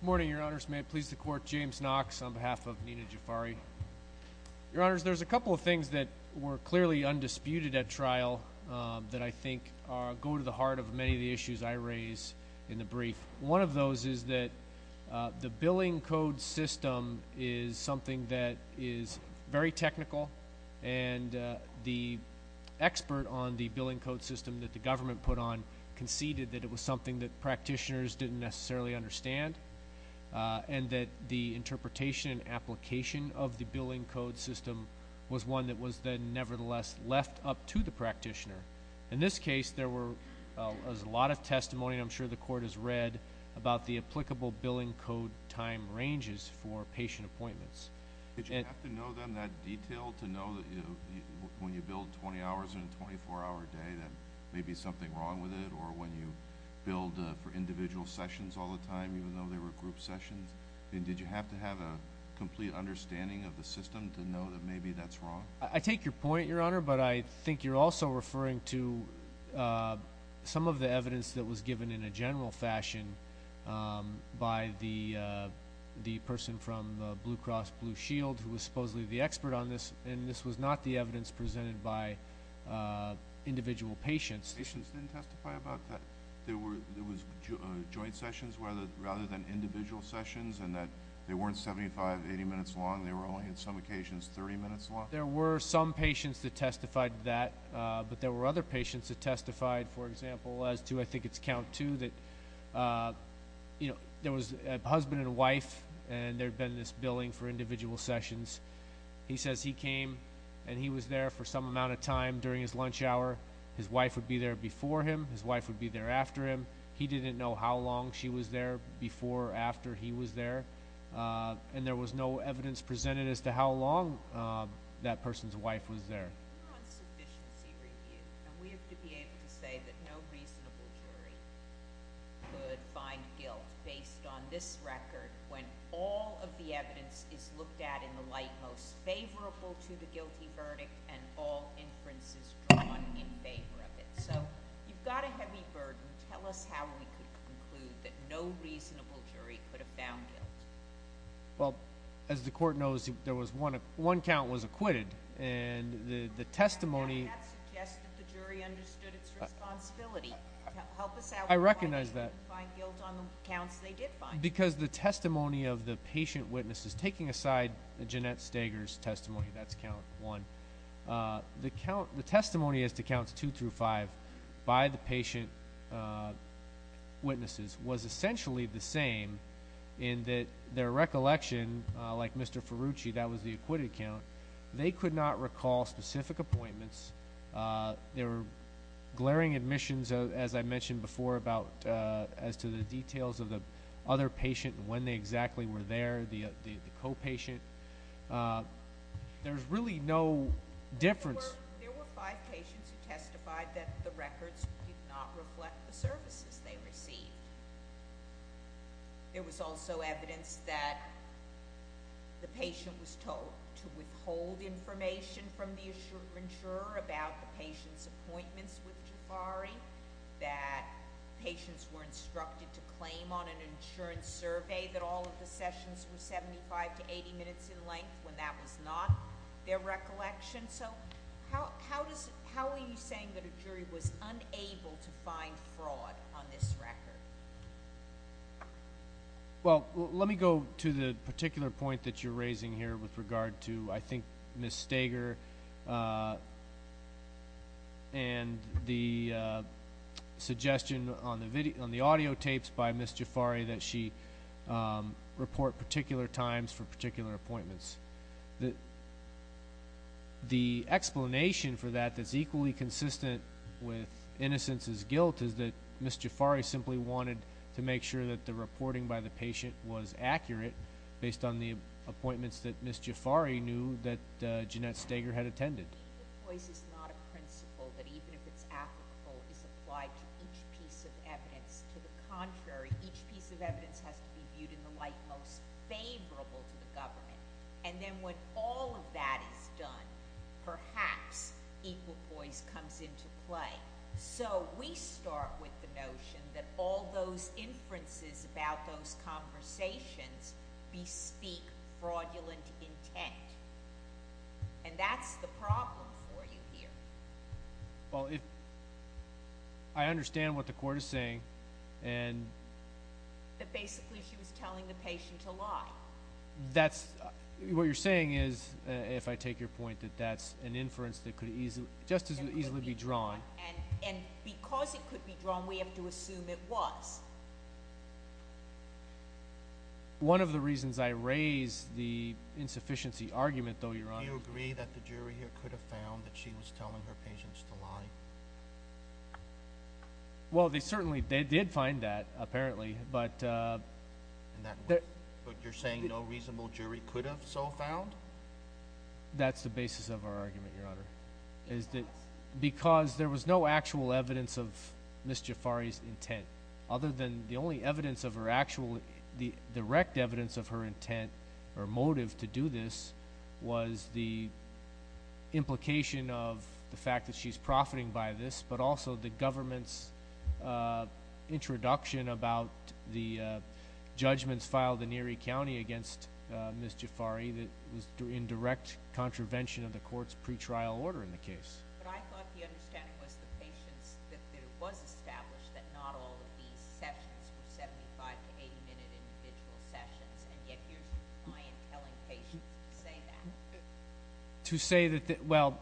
Good morning, your honors. May it please the court, James Knox on behalf of Nina Jafari. Your honors, there's a couple of things that were clearly undisputed at trial that I think go to the heart of many of the issues I raise in the brief. One of those is that the billing code system is something that is very technical and the expert on the billing code system that the government put on conceded that it was something that practitioners didn't necessarily understand and that the interpretation and application of the billing code system was one that was then nevertheless left up to the practitioner. In this case, there was a lot of testimony, I'm sure the court has read, about the applicable billing code time ranges for patient appointments. Did you have to know them in that detail to know that when you bill 20 hours in a 24-hour day that there may be something wrong with it or when you bill for individual sessions all the time even though they were group sessions? Did you have to have a complete understanding of the system to know that maybe that's wrong? I take your point, your honor, but I think you're also referring to some of the evidence that was given in a general fashion by the person from Blue Cross Blue Shield who was supposedly the expert on this and this was not the evidence presented by individual patients. Patients didn't testify about that? There was joint sessions rather than individual sessions and that they weren't 75, 80 minutes long, they were only on some occasions 30 minutes long? There were some patients that testified that, but there were other patients that testified, for example, as to I think it's count two, that there was a husband and a wife and there had been this billing for individual sessions. He says he came and he was there for some amount of time during his lunch hour. His wife would be there before him, his wife would be there after him. He didn't know how long she was there before or after he was there and there was no evidence presented as to how long that person's wife was there. We're on sufficiency review and we have to be able to say that no reasonable jury could find guilt based on this record when all of the evidence is looked at in the light most burden. Tell us how we could conclude that no reasonable jury could have found guilt. Well, as the court knows, one count was acquitted and the testimony… That suggests that the jury understood its responsibility. Help us out. I recognize that. Why didn't they find guilt on the counts they did find? Because the testimony of the patient witnesses, taking aside Jeanette Steger's testimony, that's count one, the testimony as to counts two through five by the patient witnesses was essentially the same in that their recollection, like Mr. Ferrucci, that was the acquitted count, they could not recall specific appointments. There were glaring admissions, as I mentioned before, as to the details of the other patient, when they exactly were there, the co-patient. There's really no difference. There were five patients who testified that the records did not reflect the services they received. There was also evidence that the patient was told to withhold information from the insurer about the patient's appointments with Jafari, that patients were instructed to claim on an insurance survey that all of the sessions were 75 to 80 minutes in length when that was not their recollection. So how are you saying that a jury was unable to find fraud on this record? Well, let me go to the particular point that you're raising here with regard to, I think, Ms. Stager and the suggestion on the audio tapes by Ms. Jafari that she report particular times for particular appointments. The explanation for that that's equally consistent with Innocence's guilt is that Ms. Jafari simply wanted to make sure that the reporting by the patient was accurate based on the appointments that Ms. Jafari knew that Jeanette Stager had attended. Equal poise is not a principle that even if it's applicable is applied to each piece of evidence. To the contrary, each piece of evidence has to be viewed in the light most favorable to the government. And then when all of that is done, perhaps equal poise comes into play. So we start with the notion that all those inferences about those conversations bespeak fraudulent intent. And that's the problem for you here. Well, I understand what the court is saying. But basically she was telling the patient to lie. What you're saying is, if I take your point, that that's an inference that could just as easily be drawn. And because it could be drawn, we have to assume it was. One of the reasons I raise the insufficiency argument, though, Your Honor Do you agree that the jury here could have found that she was telling her patients to lie? Well, they certainly did find that, apparently. But you're saying no reasonable jury could have so found? That's the basis of our argument, Your Honor. Because there was no actual evidence of Ms. Jafari's intent. Other than the only evidence of her actual direct evidence of her intent or motive to do this was the implication of the fact that she's profiting by this, but also the government's introduction about the judgments filed in Erie County against Ms. Jafari that was in direct contravention of the court's pretrial order in the case. But I thought the understanding was the patients that it was established that not all of these sessions were 75- to 80-minute individual sessions, and yet here's a client telling patients to say that. To say that, well,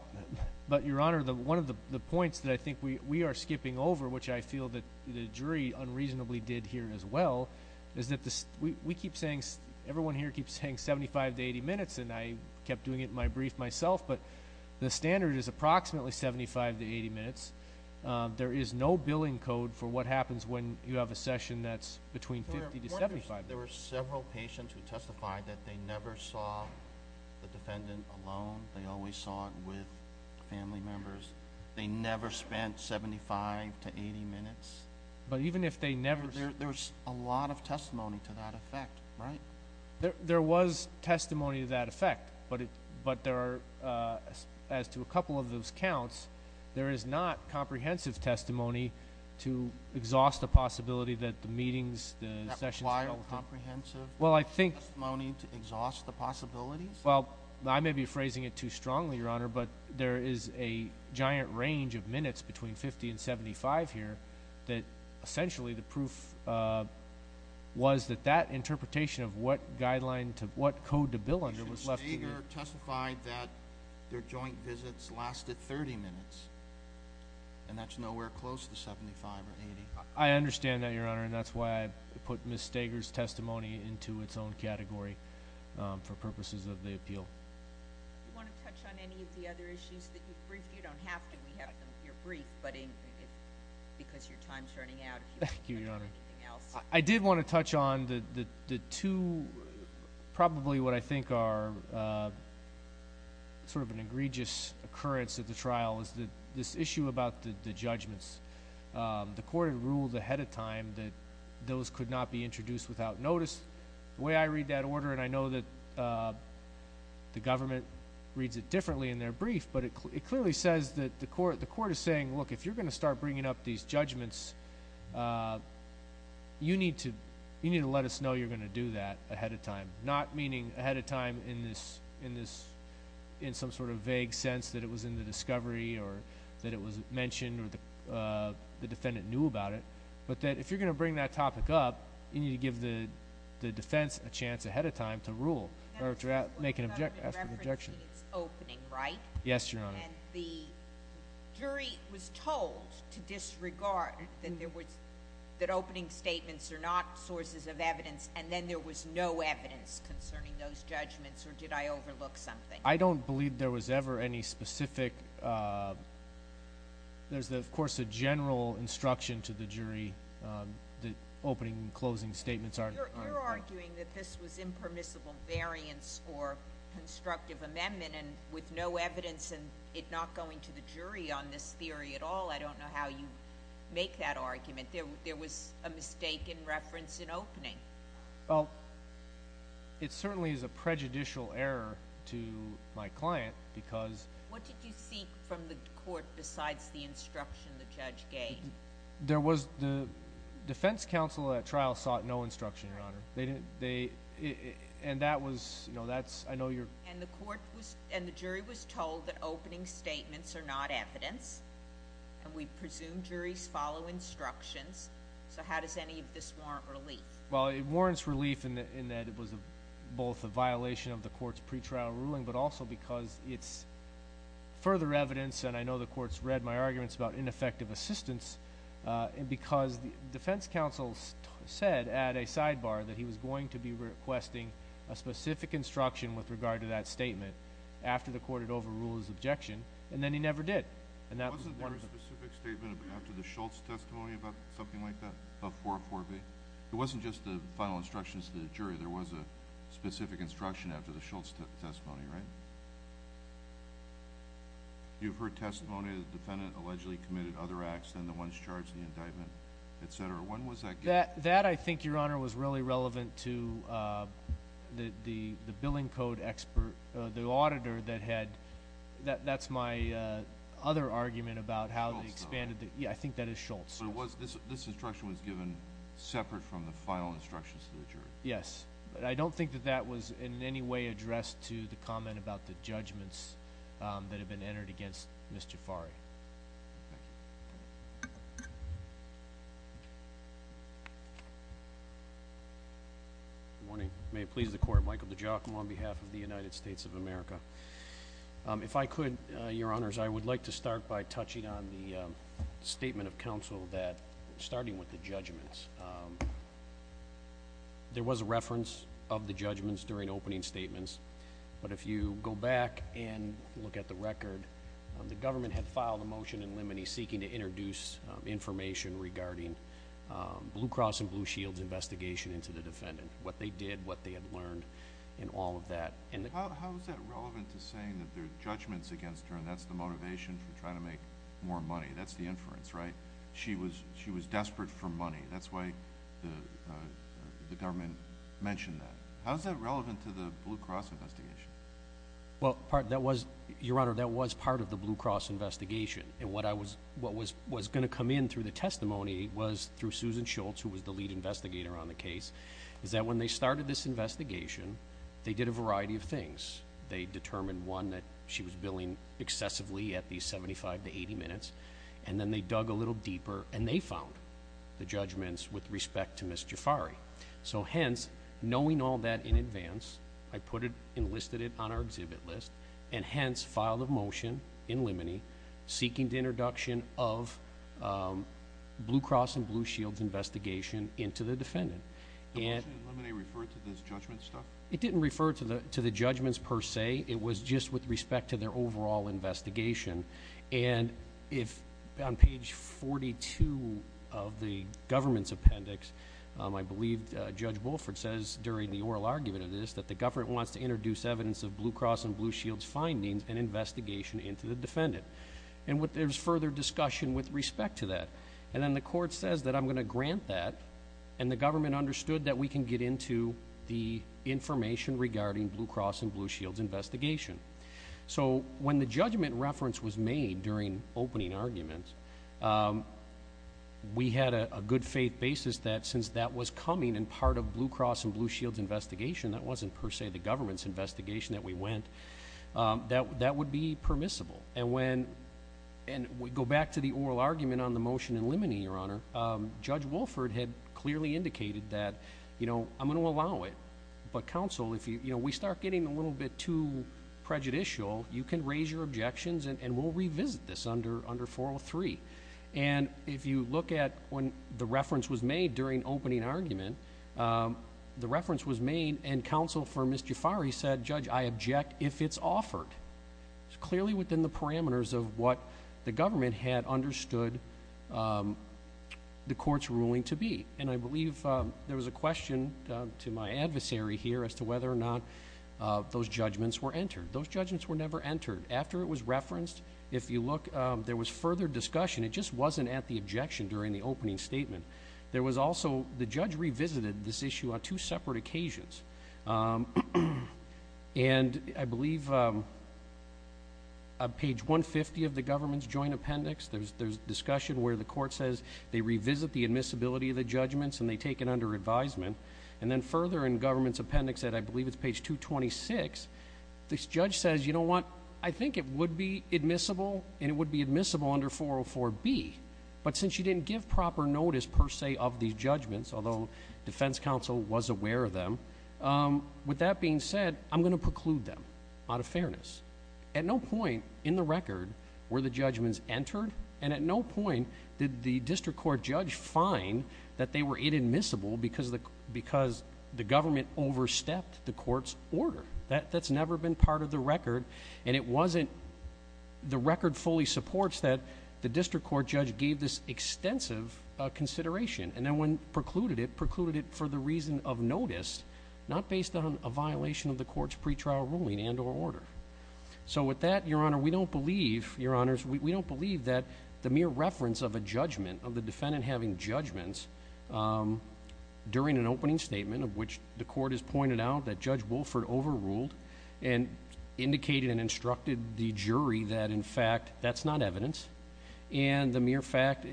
but Your Honor, one of the points that I think we are skipping over, which I feel that the jury unreasonably did here as well, is that we keep saying, everyone here keeps saying 75- to 80-minutes, and I kept doing it in my brief myself, but the standard is approximately 75- to 80-minutes. There is no billing code for what happens when you have a session that's between 50- to 75-minutes. There were several patients who testified that they never saw the defendant alone. They always saw it with family members. They never spent 75- to 80-minutes. But even if they never— There was a lot of testimony to that effect, right? There was testimony to that effect, but there are, as to a couple of those counts, there is not comprehensive testimony to exhaust the possibility that the meetings, the sessions— That wild comprehensive testimony to exhaust the possibilities? Well, I may be phrasing it too strongly, Your Honor, but there is a giant range of minutes between 50 and 75 here that essentially the proof was that that interpretation of what code to bill under was left to the— Ms. Stager testified that their joint visits lasted 30 minutes, and that's nowhere close to 75 or 80. I understand that, Your Honor, and that's why I put Ms. Stager's testimony into its own category for purposes of the appeal. Do you want to touch on any of the other issues that you've briefed? You don't have to. We have your brief, but because your time is running out— Thank you, Your Honor. I did want to touch on the two, probably what I think are sort of an egregious occurrence at the trial is this issue about the judgments. The court had ruled ahead of time that those could not be introduced without notice. The way I read that order, and I know that the government reads it differently in their brief, but it clearly says that the court is saying, look, if you're going to start bringing up these judgments, you need to let us know you're going to do that ahead of time, not meaning ahead of time in some sort of vague sense that it was in the discovery or that it was mentioned or the defendant knew about it, but that if you're going to bring that topic up, you need to give the defense a chance ahead of time to rule or to make an objection after the objection. It's opening, right? Yes, Your Honor. And the jury was told to disregard that opening statements are not sources of evidence, and then there was no evidence concerning those judgments, or did I overlook something? I don't believe there was ever any specific— the opening and closing statements aren't— You're arguing that this was impermissible variance for constructive amendment, and with no evidence and it not going to the jury on this theory at all. I don't know how you make that argument. There was a mistake in reference in opening. Well, it certainly is a prejudicial error to my client because— What did you seek from the court besides the instruction the judge gave? There was—the defense counsel at trial sought no instruction, Your Honor. They didn't—and that was—I know you're— And the court was—and the jury was told that opening statements are not evidence, and we presume juries follow instructions, so how does any of this warrant relief? Well, it warrants relief in that it was both a violation of the court's pretrial ruling but also because it's further evidence, and I know the court's read my arguments about ineffective assistance, because the defense counsel said at a sidebar that he was going to be requesting a specific instruction with regard to that statement after the court had overruled his objection, and then he never did, and that was one of the— Wasn't there a specific statement after the Schultz testimony about something like that, of 404B? It wasn't just the final instructions to the jury. There was a specific instruction after the Schultz testimony, right? You've heard testimony that the defendant allegedly committed other acts than the ones charged in the indictment, et cetera. When was that given? That, I think, Your Honor, was really relevant to the billing code expert—the auditor that had— that's my other argument about how they expanded the— Schultz, though. Yeah, I think that is Schultz. But it was—this instruction was given separate from the final instructions to the jury. Yes. But I don't think that that was in any way addressed to the comment about the judgments that had been entered against Ms. Jafari. Good morning. May it please the Court, Michael DeGiacomo on behalf of the United States of America. If I could, Your Honors, I would like to start by touching on the statement of counsel that, starting with the judgments, there was a reference of the judgments during opening statements. But if you go back and look at the record, the government had filed a motion in limine seeking to introduce information regarding Blue Cross and Blue Shield's investigation into the defendant, what they did, what they had learned, and all of that. How is that relevant to saying that there are judgments against her, and that's the motivation for trying to make more money? That's the inference, right? She was desperate for money. That's why the government mentioned that. How is that relevant to the Blue Cross investigation? Well, Your Honor, that was part of the Blue Cross investigation. And what was going to come in through the testimony was through Susan Schultz, who was the lead investigator on the case, is that when they started this investigation, they did a variety of things. They determined, one, that she was billing excessively at the 75 to 80 minutes, and then they dug a little deeper, and they found the judgments with respect to Ms. Jafari. So hence, knowing all that in advance, I put it and listed it on our exhibit list, and hence filed a motion in limine seeking the introduction of Blue Cross and Blue Shield's investigation into the defendant. The motion in limine referred to this judgment stuff? It didn't refer to the judgments per se. It was just with respect to their overall investigation. And on page 42 of the government's appendix, I believe Judge Bulford says during the oral argument of this, that the government wants to introduce evidence of Blue Cross and Blue Shield's findings and investigation into the defendant. And there's further discussion with respect to that. And then the court says that I'm going to grant that, and the government understood that we can get into the information regarding Blue Cross and Blue Shield's investigation. So when the judgment reference was made during opening arguments, we had a good faith basis that since that was coming and part of Blue Cross and Blue Shield's investigation, that wasn't per se the government's investigation that we went, that would be permissible. And we go back to the oral argument on the motion in limine, Your Honor, Judge Bulford had clearly indicated that, you know, I'm going to allow it, but counsel, if we start getting a little bit too prejudicial, you can raise your objections and we'll revisit this under 403. And if you look at when the reference was made during opening argument, the reference was made and counsel for Ms. Jafari said, Judge, I object if it's offered. It's clearly within the parameters of what the government had understood the court's ruling to be. And I believe there was a question to my adversary here as to whether or not those judgments were entered. Those judgments were never entered. After it was referenced, if you look, there was further discussion. It just wasn't at the objection during the opening statement. There was also the judge revisited this issue on two separate occasions. And I believe on page 150 of the government's joint appendix, there's discussion where the court says they revisit the admissibility of the judgments and they take it under advisement. And then further in government's appendix at I believe it's page 226, this judge says, you know what, I think it would be admissible and it would be admissible under 404B, but since you didn't give proper notice per se of these judgments, although defense counsel was aware of them, with that being said, I'm going to preclude them out of fairness. At no point in the record were the judgments entered, and at no point did the district court judge find that they were inadmissible because the government overstepped the court's order. That's never been part of the record, and it wasn't the record fully supports that the district court judge gave this extensive consideration. And then when precluded it, precluded it for the reason of notice, not based on a violation of the court's pretrial ruling and or order. So with that, Your Honor, we don't believe, Your Honors, we don't believe that the mere reference of a judgment, of the defendant having judgments during an opening statement, of which the court has pointed out that Judge Wolford overruled and indicated and instructed the jury that, in fact, that's not evidence, and the mere fact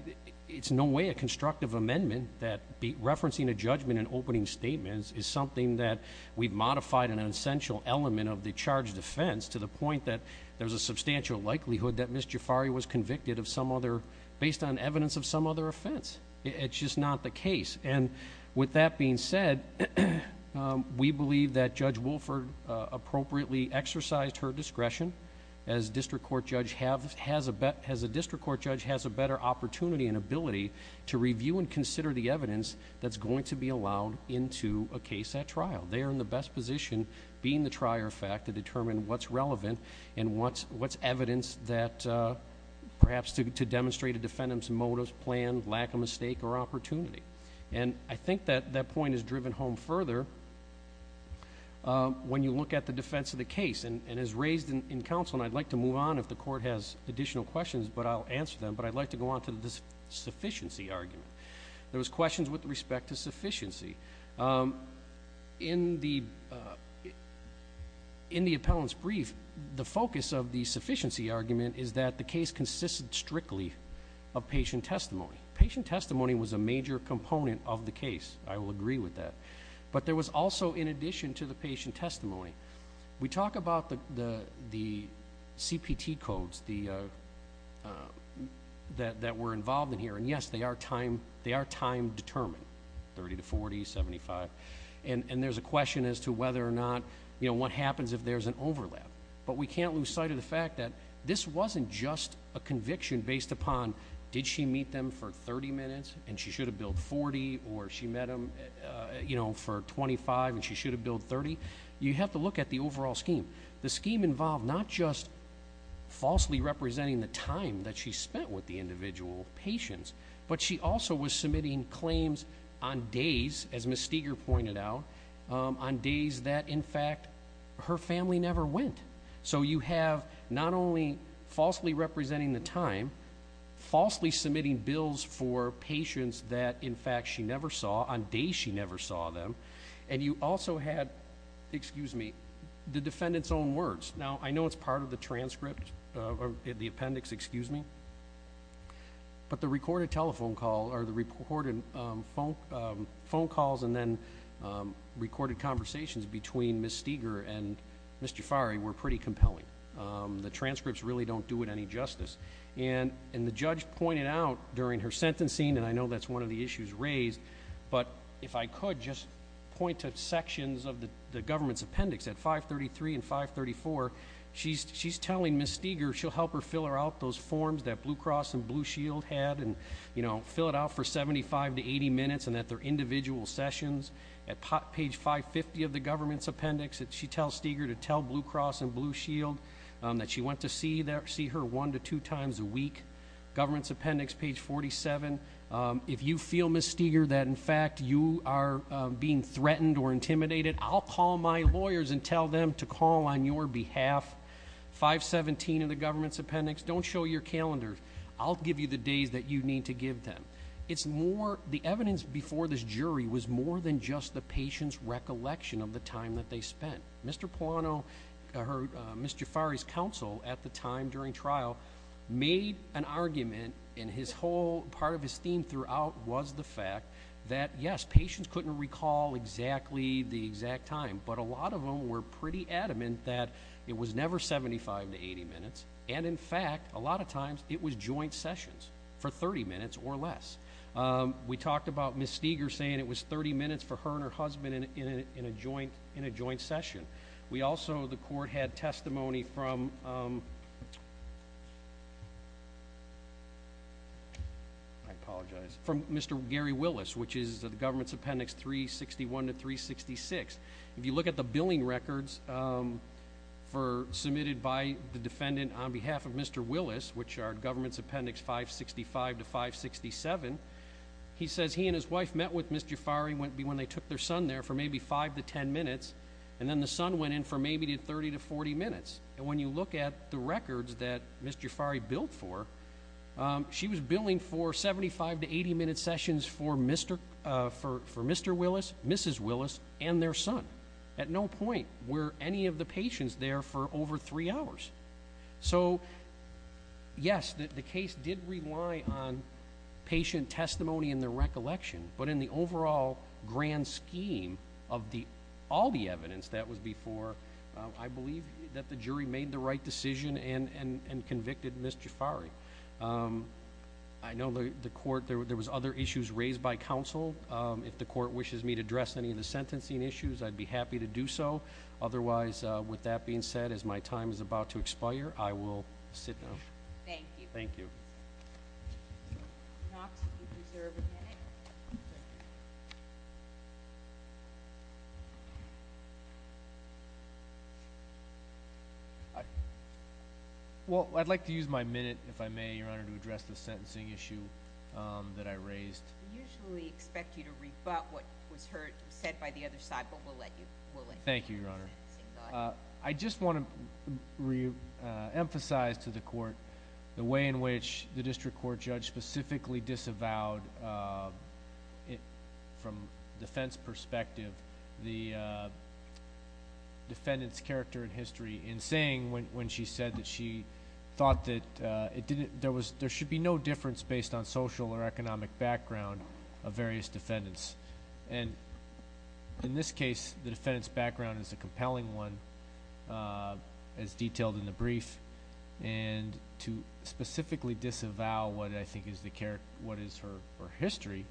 it's no way a constructive amendment that referencing a judgment in opening statements is something that we've modified an essential element of the charge defense to the point that there's a substantial likelihood that Ms. Jafari was convicted of some other, based on evidence of some other offense. It's just not the case. And with that being said, we believe that Judge Wolford appropriately exercised her discretion as a district court judge has a better opportunity and ability to review and consider the evidence that's going to be allowed into a case at trial. They are in the best position, being the trier of fact, to determine what's relevant and what's evidence that perhaps to demonstrate a defendant's motives, plan, lack of mistake, or opportunity. And I think that that point is driven home further when you look at the defense of the case. And as raised in counsel, and I'd like to move on if the court has additional questions, but I'll answer them, but I'd like to go on to the sufficiency argument. There was questions with respect to sufficiency. In the appellant's brief, the focus of the sufficiency argument is that the case consisted strictly of patient testimony. Patient testimony was a major component of the case. I will agree with that. But there was also, in addition to the patient testimony, we talk about the CPT codes that were involved in here. And, yes, they are time determined, 30 to 40, 75. And there's a question as to whether or not, you know, what happens if there's an overlap. But we can't lose sight of the fact that this wasn't just a conviction based upon did she meet them for 30 minutes and she should have billed 40 or she met them, you know, for 25 and she should have billed 30. You have to look at the overall scheme. The scheme involved not just falsely representing the time that she spent with the individual patients, but she also was submitting claims on days, as Ms. Steger pointed out, on days that, in fact, her family never went. So you have not only falsely representing the time, falsely submitting bills for patients that, in fact, she never saw, on days she never saw them, and you also had, excuse me, the defendant's own words. Now, I know it's part of the transcript or the appendix, excuse me, but the recorded telephone call or the recorded phone calls and then recorded conversations between Ms. Steger and Mr. Fari were pretty compelling. The transcripts really don't do it any justice. And the judge pointed out during her sentencing, and I know that's one of the issues raised, but if I could just point to sections of the government's appendix at 533 and 534, she's telling Ms. Steger she'll help her fill her out those forms that Blue Cross and Blue Shield had and, you know, fill it out for 75 to 80 minutes and that they're individual sessions. At page 550 of the government's appendix, she tells Steger to tell Blue Cross and Blue Shield that she went to see her one to two times a week. Government's appendix, page 47. If you feel, Ms. Steger, that in fact you are being threatened or intimidated, I'll call my lawyers and tell them to call on your behalf. 517 of the government's appendix, don't show your calendar. I'll give you the days that you need to give them. It's more, the evidence before this jury was more than just the patient's recollection of the time that they spent. Mr. Polano, or Ms. Jafari's counsel at the time during trial, made an argument and his whole part of his theme throughout was the fact that, yes, patients couldn't recall exactly the exact time, but a lot of them were pretty adamant that it was never 75 to 80 minutes, and in fact a lot of times it was joint sessions for 30 minutes or less. We talked about Ms. Steger saying it was 30 minutes for her and her husband in a joint session. We also, the court had testimony from, I apologize, from Mr. Gary Willis, which is the government's appendix 361 to 366. If you look at the billing records submitted by the defendant on behalf of Mr. He says he and his wife met with Ms. Jafari when they took their son there for maybe five to ten minutes, and then the son went in for maybe 30 to 40 minutes. And when you look at the records that Ms. Jafari billed for, she was billing for 75 to 80 minute sessions for Mr. Willis, Mrs. Willis, and their son. At no point were any of the patients there for over three hours. So yes, the case did rely on patient testimony and their recollection, but in the overall grand scheme of all the evidence that was before, I believe that the jury made the right decision and convicted Ms. Jafari. I know the court, there was other issues raised by counsel. If the court wishes me to address any of the sentencing issues, I'd be happy to do so. Otherwise, with that being said, as my time is about to expire, I will sit down. Thank you. Thank you. Well, I'd like to use my minute, if I may, Your Honor, to address the sentencing issue that I raised. We usually expect you to rebut what was said by the other side, but we'll let you. Thank you, Your Honor. I just want to reemphasize to the court the way in which the district court judge specifically disavowed, from defense perspective, the defendant's character and history in saying, when she said that she thought that there should be no difference based on social or economic background of various defendants. In this case, the defendant's background is a compelling one, as detailed in the brief, and to specifically disavow what I think is her history,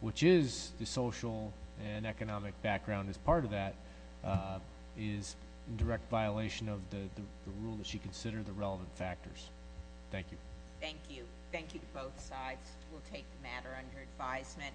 which is the social and economic background as part of that, is in direct violation of the rule that she considered the relevant factors. Thank you. Thank you. Thank you to both sides. We'll take the matter under advisement.